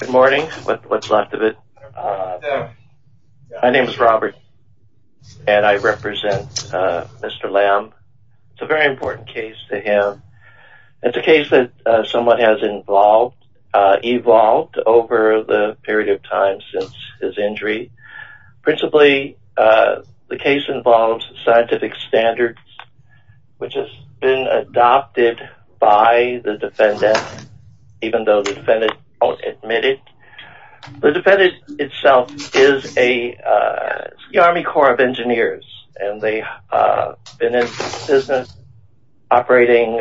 Good morning, what's left of it. My name is Robert and I represent Mr. Lam. It's a very important case to him. It's a case that someone has involved, evolved over the period of time since his injury. Principally the case involves scientific standards, which has been adopted by the defendant, even though the defendant won't admit it. The defendant itself is a Army Corps of Engineers and they've been in business operating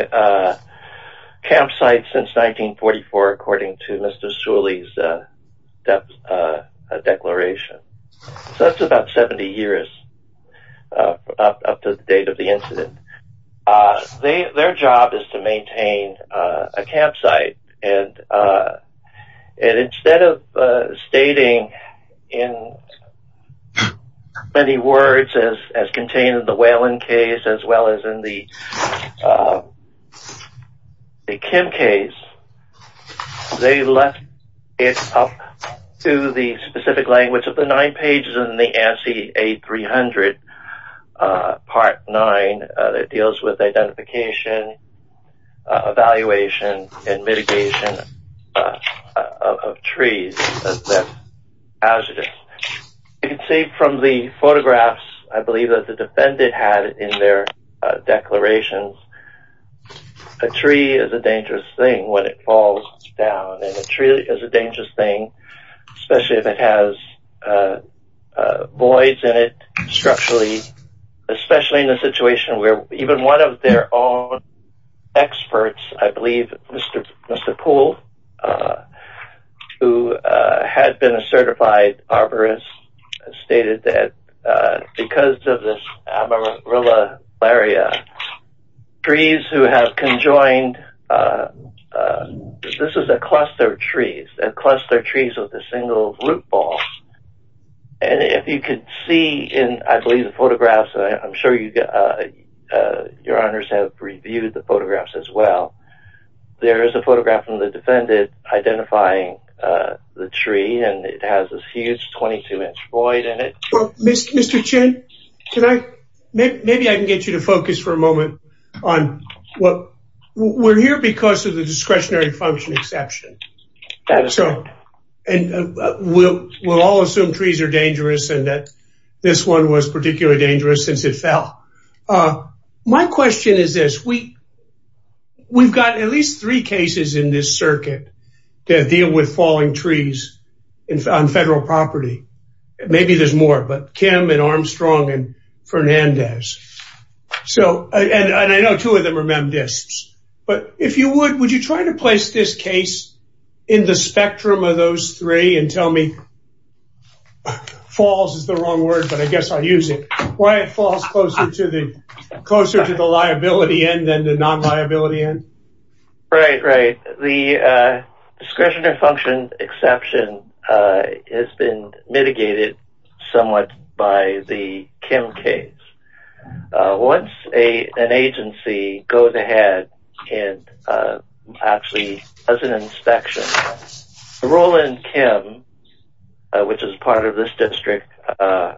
campsites since 1944, according to Mr. Suley's declaration. So that's about 70 years up to the date of the incident. Their job is to maintain a campsite and instead of stating in many words, as contained up to the specific language of the nine pages in the ANSI A300 Part 9 that deals with identification, evaluation, and mitigation of trees that are hazardous. You can see from the photographs, I believe that the defendant had in their declarations, a tree is a dangerous thing, especially if it has voids in it structurally, especially in a situation where even one of their own experts, I believe Mr. Poole, who had been a certified arborist, stated that because of this amaryllularia, trees who cluster trees with a single root ball. And if you could see in, I believe, the photographs, I'm sure your honors have reviewed the photographs as well. There is a photograph from the defendant identifying the tree and it has this huge 22-inch void in it. Mr. Chin, maybe I can get you to focus for a moment on what we're here because of the and we'll all assume trees are dangerous and that this one was particularly dangerous since it fell. My question is this, we've got at least three cases in this circuit that deal with falling trees on federal property. Maybe there's more, but Kim and Armstrong and Fernandez. So and I know two of them are memdiscs, but if you would, would you try to place this case in the spectrum of those three and tell me, falls is the wrong word, but I guess I'll use it, why it falls closer to the closer to the liability end than the non-liability end? Right, right. The discretionary function exception has been mitigated somewhat by the Kim case. Once an agency goes ahead and actually does an inspection, the rule in Kim, which is part of this district of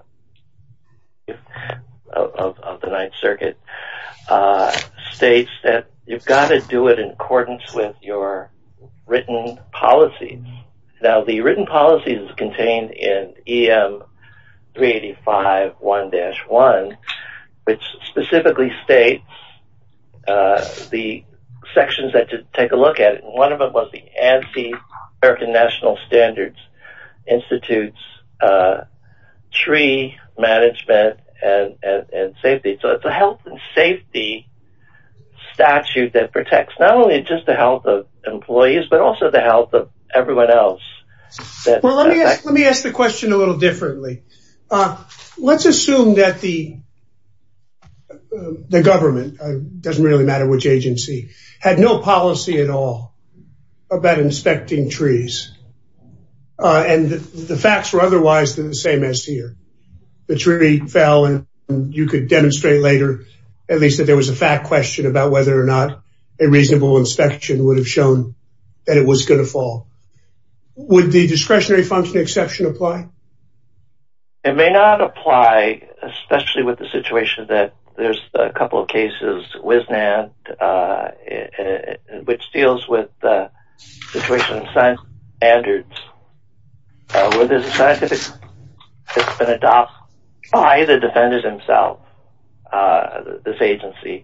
the Ninth Circuit, states that you've got to do it in accordance with your written policy. Now the written policy is contained in EM 385 1-1, which specifically states the sections that to take a look at it. One of them was the ANSI, American National Standards Institute's tree management and safety. So it's a health and safety statute that protects not only just the health of employees, but also the health of everyone else. Well, let me ask the question a little differently. Let's assume that the government, doesn't really matter which agency, had no policy at all about inspecting trees. And the facts were otherwise the same as here. The tree fell and you could demonstrate later, at least that there was a fact question about whether or not a reasonable inspection would have shown that it was going to fall. Would the discretionary function exception apply? It may not apply, especially with the situation that there's a couple of cases, which deals with the tuition standards. Whether it's a scientific, it's been adopted by the defendants himself, this agency.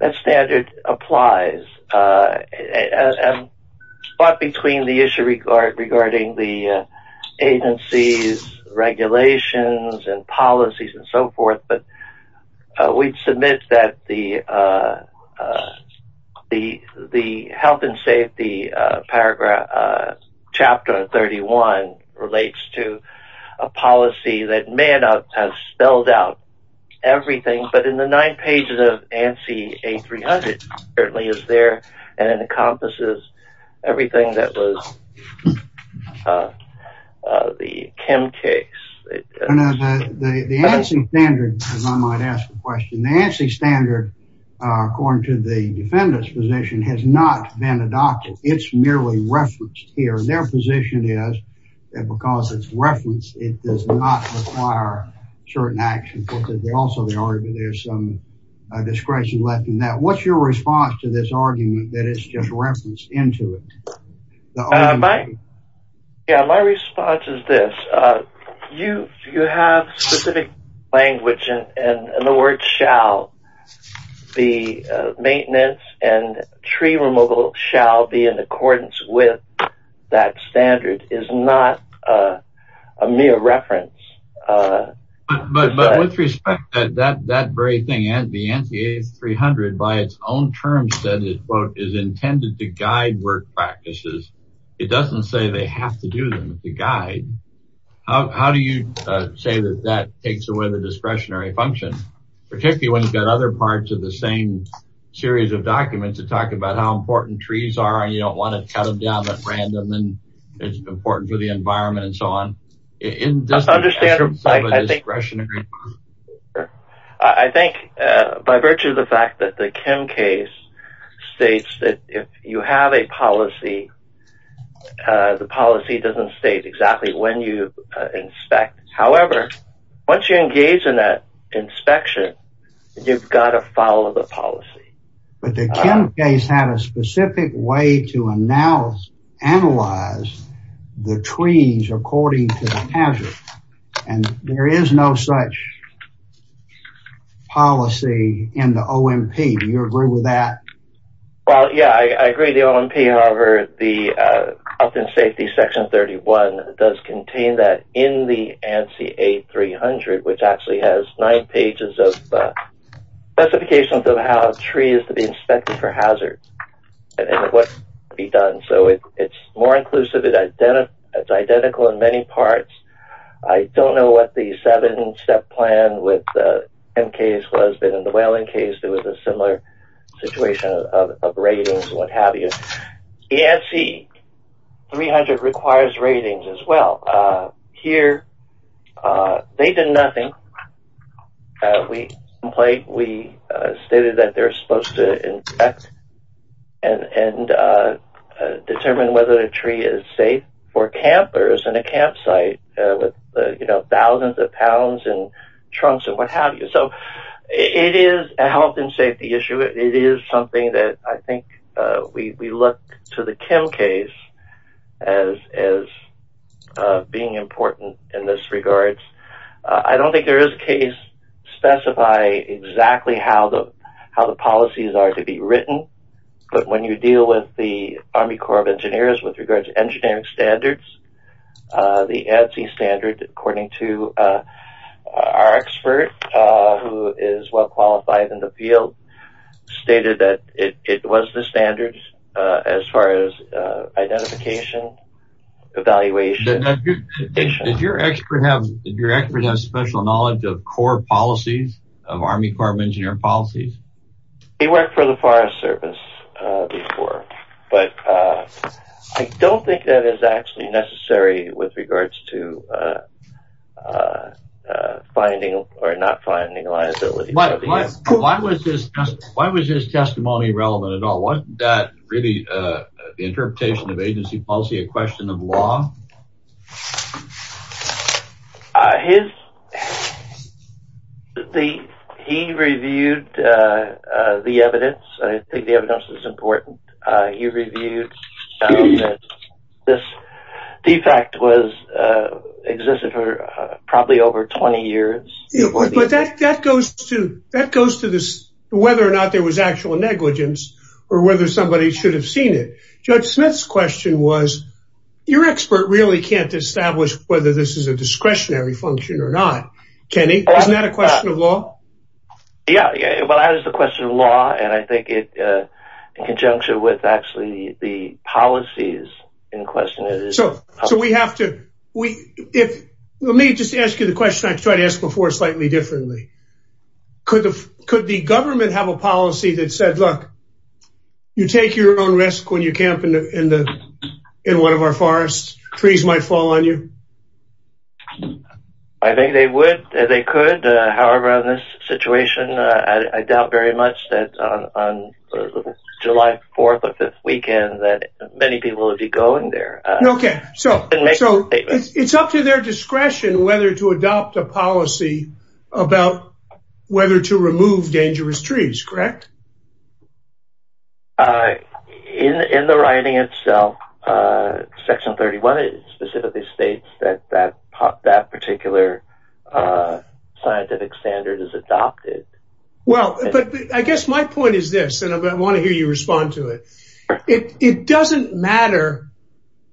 That standard applies. But between the issue regarding the agencies, regulations and policies and so forth, but we'd submit that the health and safety paragraph, chapter 31 relates to a policy that may not have spelled out everything, but in the nine pages of the Kim case. The ANSI standard, as I might ask the question, the ANSI standard, according to the defendant's position, has not been adopted. It's merely referenced here. Their position is that because it's referenced, it does not require certain actions. Because they also argue there's some discretion left in that. What's your response to this argument that it's just referenced into it? My response is this. You have specific language and the word shall. The maintenance and tree removal shall be in accordance with that standard is not a mere reference. But with respect to that very thing, the ANSI A300, by its own terms, is intended to guide work practices. It doesn't say they have to do them. It's a guide. How do you say that that takes away the discretionary function? Particularly when you've got other parts of the same series of documents that talk about how important trees are and you don't want to cut them down at random and it's important for the environment and so on. I think by virtue of the fact that the Kim case states that if you have a policy, the policy doesn't state exactly when you inspect. However, once you engage in that inspection, you've got to follow the policy. But the Kim case had a specific way to analyze the trees according to the hazard. And there is no such policy in the OMP. Do you agree with that? Well, yeah, I agree with the OMP. However, the importance of how a tree is to be inspected for hazard and what can be done. So it's more inclusive. It's identical in many parts. I don't know what the seven-step plan with the Kim case was, but in the Whelan case, there was a similar situation of ratings and what have you. The ANSI A300 requires ratings as well. Here, they did nothing. We stated that they're supposed to inspect and determine whether the tree is safe for campers in a campsite with thousands of pounds and trunks and what have you. So it is a health and safety issue. It is something that I think we look to the Kim case as being important in this regard. I don't think there is a case to specify exactly how the policies are to be written. But when you deal with the Army Corps of Engineers with regards to engineering standards, the ANSI standard, according to our expert who is well qualified in the field, stated that it was the standards as far as identification, evaluation. Did your expert have special knowledge of Corps policies, of Army Corps of Engineers policies? He worked for the Forest Service before. But I don't think that is actually necessary with regards to finding or not testimony relevant at all. Wasn't that really the interpretation of agency policy, a question of law? He reviewed the evidence. I think the evidence is important. He reviewed that this defect existed for probably over 20 years. But that goes to this, whether or not there was actual negligence, or whether somebody should have seen it. Judge Smith's question was, your expert really can't establish whether this is a discretionary function or not. Kenny, isn't that a question of law? Yeah, yeah. Well, that is the question of law. And I think it in conjunction with actually the policies in question. So, so we have to, we, if, let me just ask you the question I tried to ask before slightly differently. Could the, could the government have a policy that said, look, you take your own risk when you camp in one of our forests, trees might fall on you? I think they would, they could. However, in this situation, I doubt very much that on July 4th or 5th weekend that many people would be going there. Okay, so, so it's up to their discretion whether to adopt a policy about whether to remove dangerous trees, correct? In the writing itself, Section 31 specifically states that that particular scientific standard is adopted. Well, but I guess my point is this, and I want to hear you respond to it. It doesn't matter,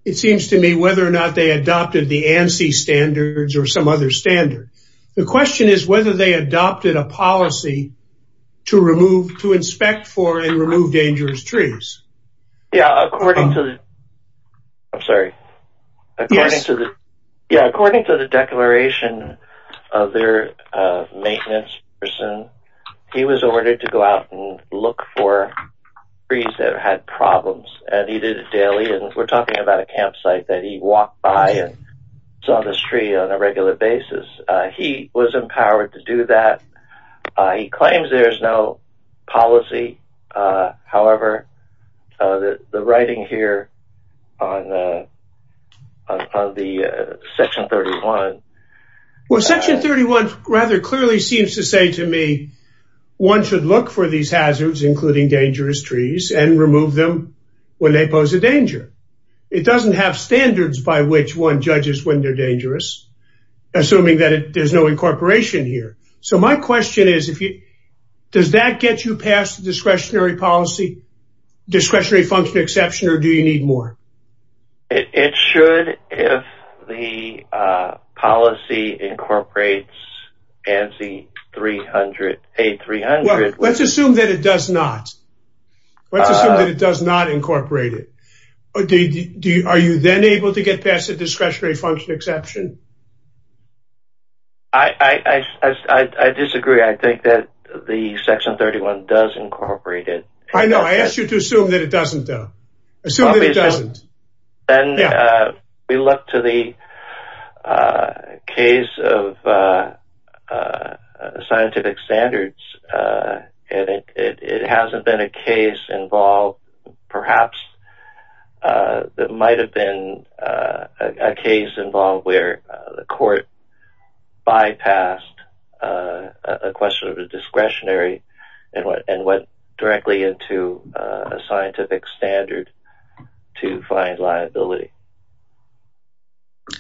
it seems to me, whether or not they adopted the ANSI standards or some other standard. The question is whether they adopted a policy to remove, to inspect for and remove dangerous trees. Yeah, according to the, I'm sorry. According to the, yeah, according to the declaration of their maintenance person, he was ordered to go out and look for trees that had problems. And he did it daily. And we're talking about a campsite that he walked by and saw this tree on a regular basis. He was empowered to do that. He claims there's no policy. However, the writing here on the Section 31 Well, Section 31 rather clearly seems to say to me, one should look for these hazards, including dangerous trees and remove them when they pose a danger. It doesn't have standards by which one judges when they're dangerous, assuming that there's no incorporation here. So my question is, if you, does that get you past the discretionary policy, discretionary function exception, or do you need more? It should if the policy incorporates ANSI 300, A300. Let's assume that it does not. Let's assume that it does not incorporate it. Are you then able to get past the discretionary function exception? I disagree. I think that the Section 31 does incorporate it. I know. I asked you to assume that it doesn't though. Assume that it doesn't. Then we look to the case of scientific standards. And it hasn't been a case involved, perhaps, that might have been a case involved where the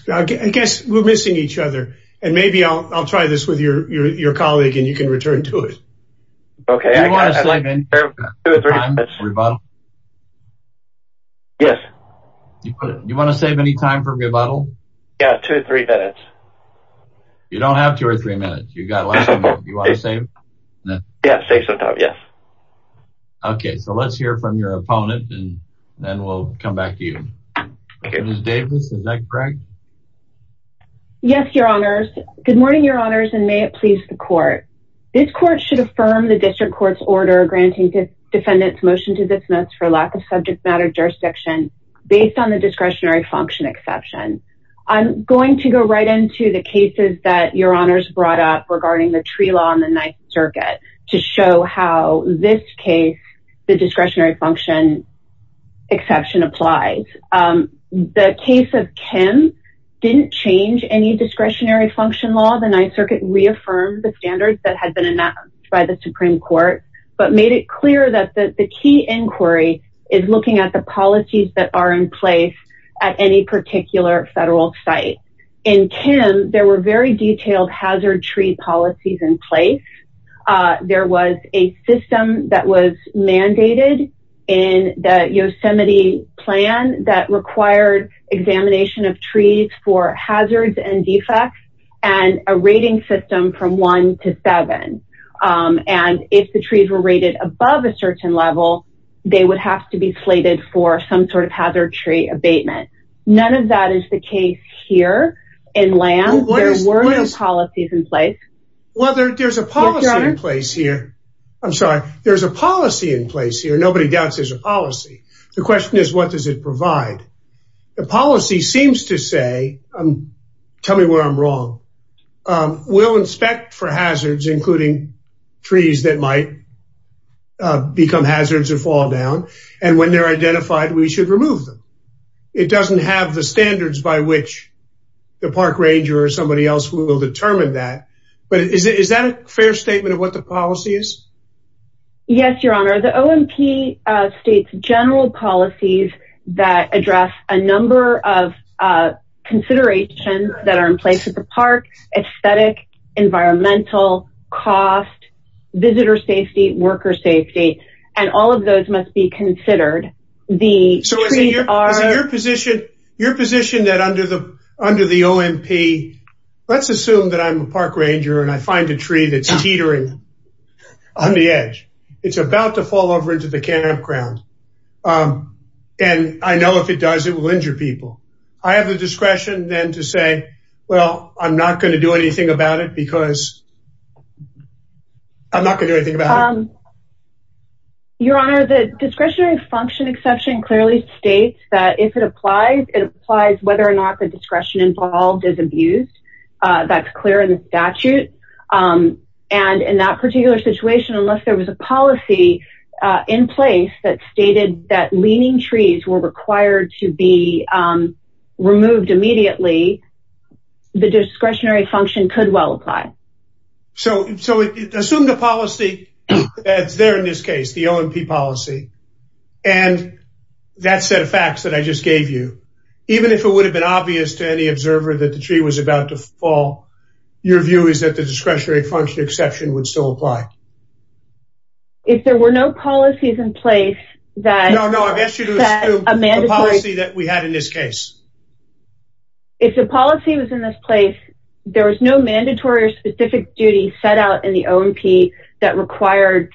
I guess we're missing each other. And maybe I'll try this with your colleague and you can return to it. Okay, I want to save any time for rebuttal. Yes. You want to save any time for rebuttal? Yeah, two or three minutes. You don't have two or three minutes. You got a lot of time. You want to save? Yeah, save some time. Yes. Okay, so let's hear from your opponent and then we'll come back to you. Okay, Ms. Davis, is that correct? Yes, Your Honors. Good morning, Your Honors, and may it please the court. This court should affirm the district court's order granting defendants motion to dismiss for lack of subject matter jurisdiction based on the discretionary function exception. I'm going to go right into the cases that Your Honors brought up regarding the tree law in the Ninth Circuit to show how this case, the discretionary function exception applies. The case of Kim didn't change any discretionary function law. The Ninth Circuit reaffirmed the standards that had been announced by the Supreme Court. But made it clear that the key inquiry is looking at the policies that are in place at any particular federal site. In Kim, there were very detailed hazard tree policies in place. There was a system that was mandated in the Yosemite plan that required examination of trees for hazards and defects and a rating system from one to seven. And if the trees were rated above a certain level, they would have to be slated for some sort of hazard tree abatement. None of that is the case here in land. There were no policies in place. Well, there's a policy in place here. I'm sorry. There's a policy in place here. Nobody doubts there's a policy. The question is, what does it provide? The policy seems to say, tell me where I'm wrong. We'll inspect for hazards, including trees that might become hazards or fall down. And when they're identified, we should remove them. It doesn't have the standards by which the park ranger or somebody else will determine that. But is that a fair statement of what the policy is? Yes, Your Honor. The OMP states general policies that address a number of considerations that are in place at the park. Aesthetic, environmental, cost, visitor safety, worker safety, and all of those must be considered. So is it your position that under the OMP, let's assume that I'm a park ranger and I find a tree that's teetering on the edge. It's about to fall over into the campground. And I know if it does, it will injure people. I have the discretion then to say, well, I'm not going to do anything about it because I'm not going to do anything about it. Your Honor, the discretionary function exception clearly states that if it applies, it applies whether or not the discretion involved is abused. That's clear in the statute. And in that particular situation, unless there was a policy in place that stated that leaning trees were required to be removed immediately, the discretionary function could well apply. So assume the policy that's there in this case, the OMP policy, and that set of facts that I just gave you, even if it would have been obvious to any observer that the tree was about to fall, your view is that the discretionary function exception would still apply. If there were no policies in place that... No, no, I've asked you to assume a policy that we had in this case. If the policy was in this place, there was no mandatory or specific duty set out in the OMP that required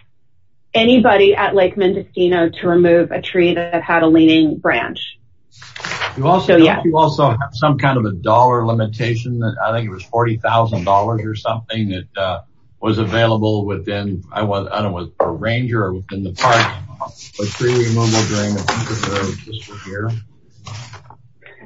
anybody at Lake Mendocino to remove a tree that had a leaning branch. You also have some kind of a dollar limitation. I think it was $40,000 or something that was available within, I don't know, a ranger or within the park. A tree removal during the winter period, just for fear.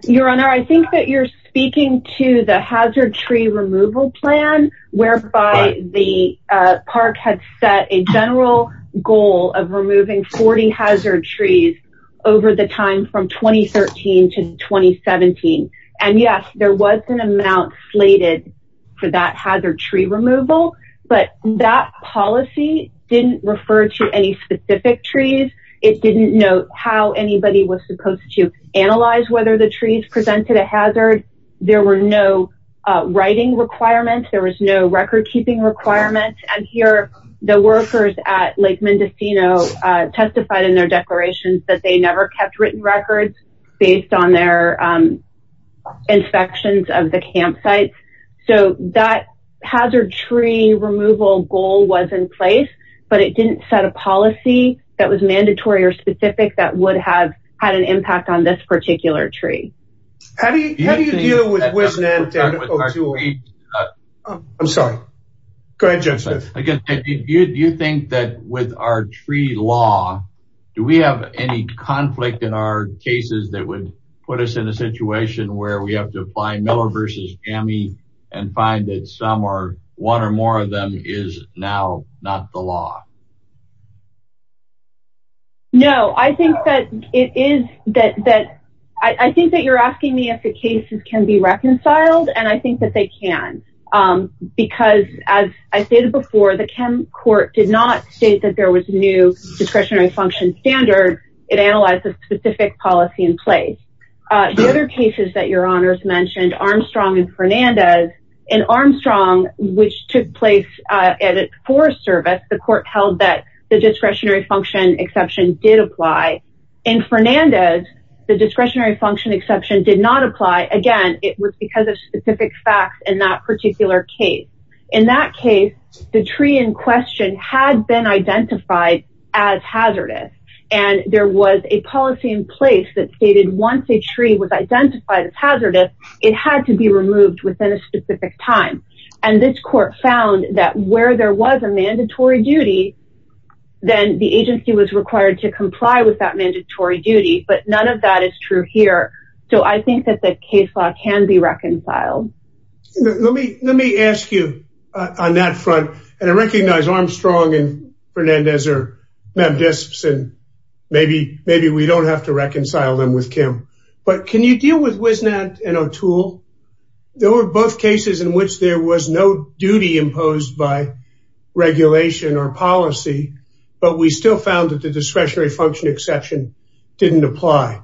Your Honor, I think that you're speaking to the hazard tree removal plan, whereby the park had set a general goal of removing 40 hazard trees over the time from 2013 to 2017. Yes, there was an amount slated for that hazard tree removal, but that policy didn't refer to any specific trees. It didn't note how anybody was supposed to analyze whether the trees presented a hazard. There were no writing requirements. There was no record keeping requirements. And here, the workers at Lake Mendocino testified in their declarations that they never kept written records based on their inspections of the campsites. So that hazard tree removal goal was in place, but it didn't set a policy that was mandatory or specific that would have had an impact on this particular tree. How do you deal with WISNET and O2OE? I'm sorry. Go ahead, Judge Smith. Again, do you think that with our tree law, do we have any conflict in our cases that would put us in a situation where we have to apply Miller versus Jammie and find that some or one or more of them is now not the law? No, I think that you're asking me if the cases can be reconciled, and I think that they can, because as I stated before, the KEM court did not state that there was a new discretionary function standard. It analyzes specific policy in place. The other cases that your honors mentioned, Armstrong and Fernandez, and Armstrong, which took place at its forest service, the court held that it was not the law. It held that the discretionary function exception did apply. In Fernandez, the discretionary function exception did not apply. Again, it was because of specific facts in that particular case. In that case, the tree in question had been identified as hazardous, and there was a policy in place that stated once a tree was identified as hazardous, it had to be removed within a specific time. And this court found that where there was a mandatory duty, then the agency was required to comply with that mandatory duty, but none of that is true here. So, I think that the case law can be reconciled. Let me ask you on that front, and I recognize Armstrong and Fernandez are mem disps, and maybe we don't have to reconcile them with KEM, but can you deal with Wisnat and O'Toole? There were both cases in which there was no duty imposed by regulation or policy, but we still found that the discretionary function exception didn't apply.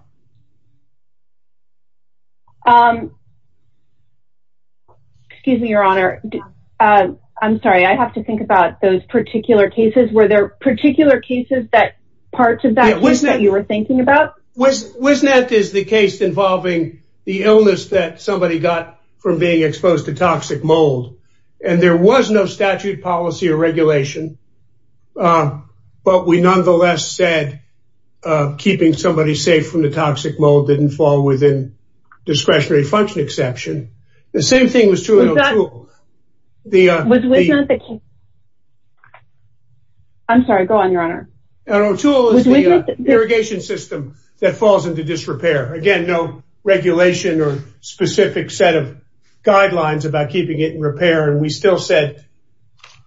Excuse me, your honor. I'm sorry, I have to think about those particular cases. Were there particular cases that parts of that case that you were thinking about? Wisnat is the case involving the illness that somebody got from being exposed to toxic mold, and there was no statute, policy, or regulation, but we nonetheless said keeping somebody safe from the toxic mold didn't fall within discretionary function exception. The same thing was true in O'Toole. I'm sorry, go on, your honor. O'Toole is the irrigation system that falls into disrepair. Again, no regulation or specific set of guidelines about keeping it in repair, and we still said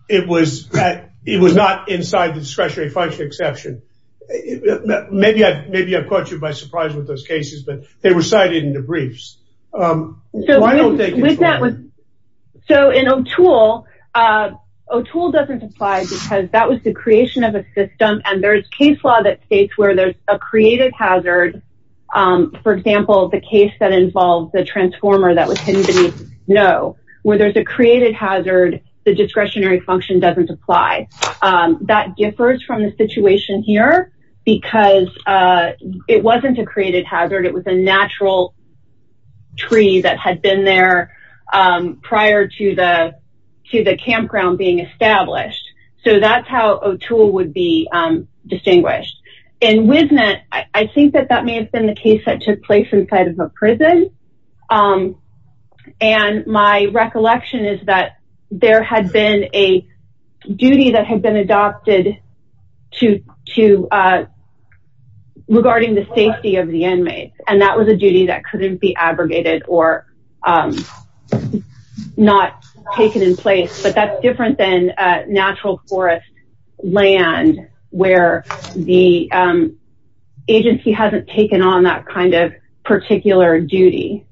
it was not inside the discretionary function exception. Maybe I've caught you by surprise with those cases, but they were cited in the briefs. So in O'Toole, O'Toole doesn't apply because that was the creation of a system, and there's case law that states where there's a created hazard, for example, the case that involves the transformer that was hidden beneath the snow. Where there's a created hazard, the discretionary function doesn't apply. That differs from the situation here because it wasn't a created hazard. It was a natural tree that had been there prior to the campground being established. So that's how O'Toole would be distinguished. In Wisnet, I think that that may have been the case that took place inside of a prison. And my recollection is that there had been a duty that had been adopted regarding the safety of the inmates. And that was a duty that couldn't be abrogated or not taken in place. But that's different than natural forest land where the agency hasn't taken on that kind of particular duty.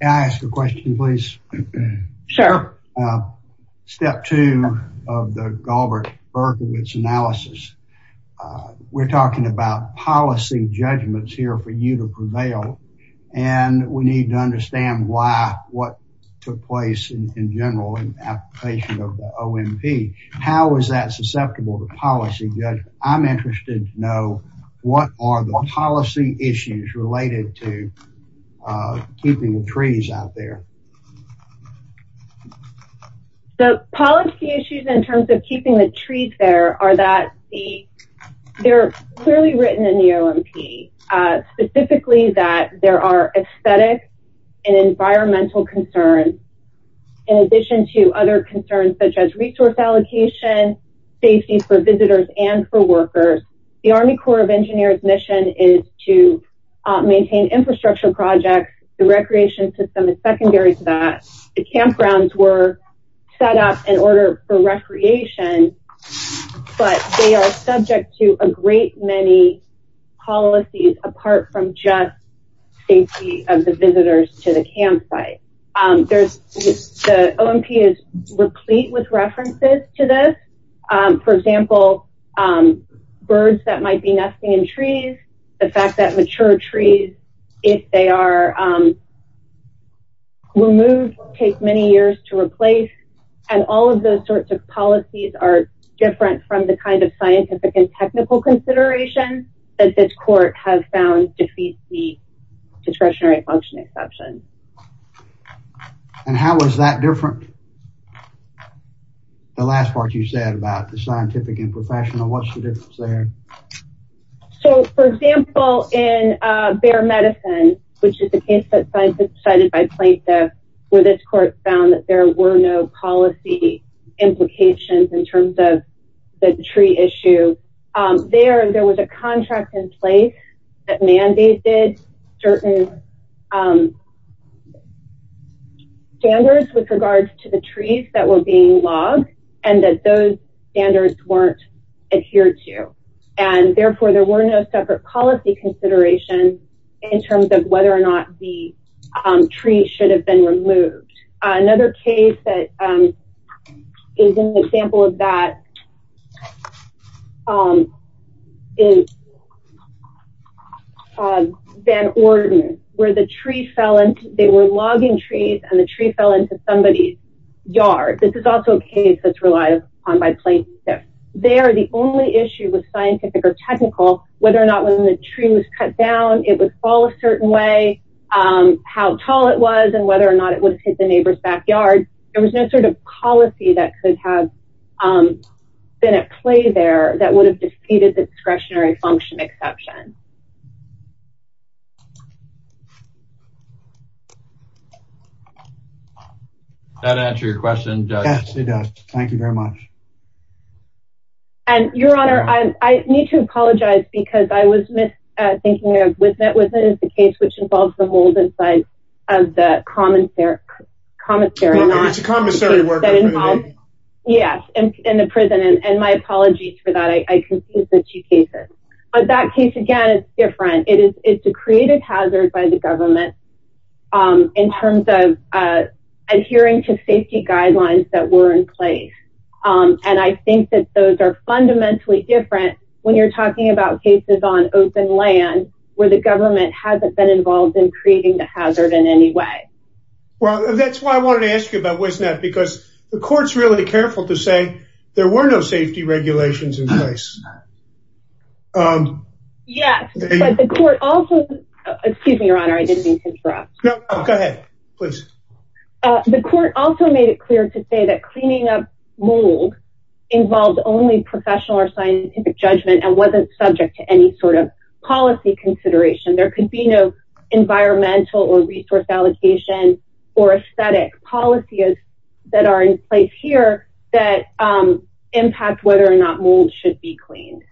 Can I ask a question, please? Sure. Step two of the Galbraith-Berkowitz analysis. We're talking about policy judgments here for you to prevail. And we need to understand why, what took place in general in the application of the OMP. How is that susceptible to policy judgment? I'm interested to know what are the policy issues related to keeping the trees out there? The policy issues in terms of keeping the trees there are that they're clearly written in the OMP. Specifically that there are aesthetic and environmental concerns. In addition to other concerns such as resource allocation, safety for visitors and for workers. The Army Corps of Engineers mission is to maintain infrastructure projects. The recreation system is secondary to that. The campgrounds were set up in order for recreation. But they are subject to a great many policies apart from just safety of the visitors to the campsite. The OMP is replete with references to this. For example, birds that might be nesting in trees. The fact that mature trees, if they are removed, will take many years to replace. And all of those sorts of policies are different from the kind of scientific and technical consideration that this court has found defeats the discretionary function exception. And how is that different? The last part you said about the scientific and professional, what's the difference there? So, for example, in bear medicine, which is the case that scientists decided by plaintiff, where this court found that there were no policy implications in terms of the tree issue. There, there was a contract in place that mandated certain standards with regards to the trees that were being logged. And that those standards weren't adhered to. And therefore, there were no separate policy considerations in terms of whether or not the tree should have been removed. Another case that is an example of that is Van Orden, where the tree fell into, they were logging trees and the tree fell into somebody's yard. This is also a case that's relied upon by plaintiff. Whether or not when the tree was cut down, it would fall a certain way, how tall it was and whether or not it would have hit the neighbor's backyard. There was no sort of policy that could have been at play there that would have defeated the discretionary function exception. That answer your question, Judge? Yes, it does. Thank you very much. And Your Honor, I need to apologize because I was thinking of Wismet, Wismet is the case which involves the molded side of the commissary. Well, no, it's a commissary workup anyway. Yes, in the prison. And my apologies for that. I confused the two cases. But that case, again, it's different. It's a creative hazard by the government in terms of adhering to safety guidelines that were in place. And I think that those are fundamentally different when you're talking about cases on open land, where the government hasn't been involved in creating the hazard in any way. Well, that's why I wanted to ask you about Wismet, because the court's really careful to say there were no safety regulations in place. Yes, but the court also, excuse me, Your Honor, I didn't mean to interrupt. No, go ahead, please. The court also made it clear to say that cleaning up mold involved only professional or scientific judgment and wasn't subject to any sort of policy consideration. There could be no environmental or resource allocation or aesthetic policies that are in place here that impact whether or not mold should be cleaned.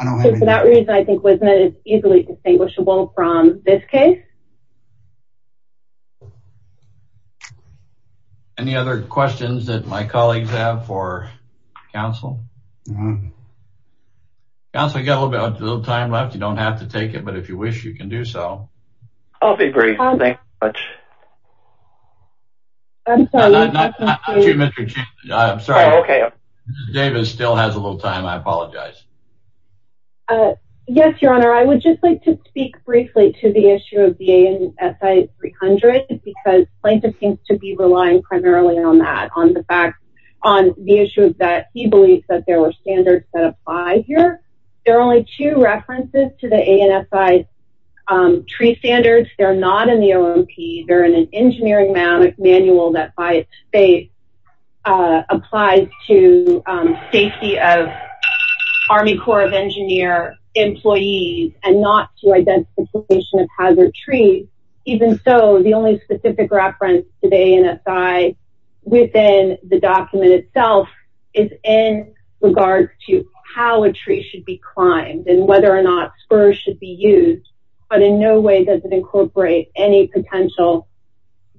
So for that reason, I think Wismet is easily distinguishable from this case. Any other questions that my colleagues have for counsel? Counsel, we've got a little time left. You don't have to take it, but if you wish, you can do so. I'll be brief. Thank you very much. I'm sorry. Not you, Mr. Chambliss. I'm sorry. Oh, okay. David still has a little time. I apologize. Yes, Your Honor, I would just like to speak briefly to the issue of the ANSI 300, because plaintiff seems to be relying primarily on that, on the fact, on the issue that he believes that there were standards that apply here. There are only two references to the ANSI tree standards. They're not in the OMP. They're in an engineering manual that by its state applies to safety of Army Corps of Engineer employees and not to identification of hazard trees. Even so, the only specific reference to the ANSI within the document itself is in regards to how a tree should be climbed and whether or not spurs should be used. But in no way does it incorporate any potential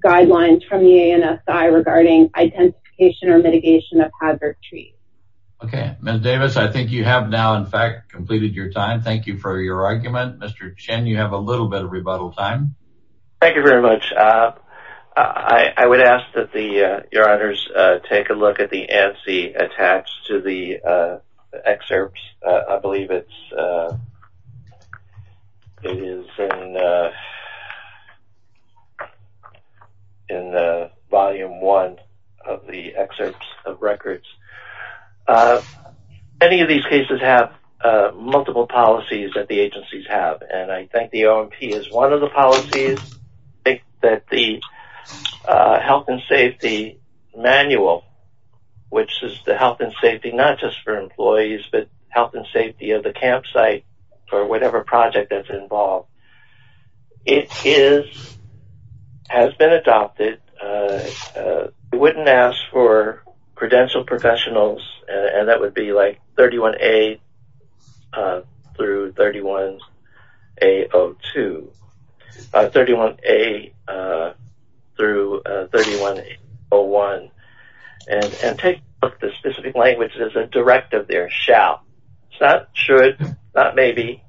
guidelines from the ANSI regarding identification or mitigation of hazard trees. Okay. Ms. Davis, I think you have now, in fact, completed your time. Thank you for your argument. Mr. Chen, you have a little bit of rebuttal time. Thank you very much. I would ask that Your Honors take a look at the ANSI attached to the document. It is in volume one of the excerpts of records. Many of these cases have multiple policies that the agencies have. I think the OMP is one of the policies. I think that the health and safety manual, which is the health and safety not just for employees, but health and safety of the campsite or whatever project that's involved, it has been adopted. I wouldn't ask for credentialed professionals, and that would be 31A-31A01. Take a look at the specific language. There's a directive there, shall, not should, not maybe.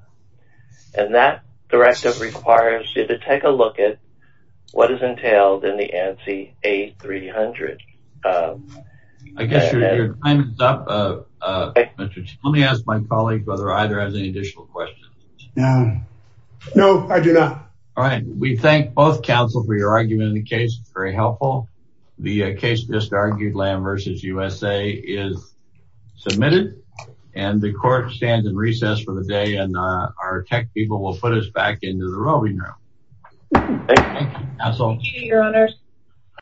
That directive requires you to take a look at what is entailed in the ANSI A300. I guess your time is up. Mr. Chen, let me ask my colleague whether either has any additional questions. No, I do not. All right. We thank both counsel for your argument in the case. It's very helpful. The case just argued, Lamb v. USA, is submitted, and the court stands in recess for the day, and our tech people will put us back into the voting room. Thank you, counsel. Thank you, your honors.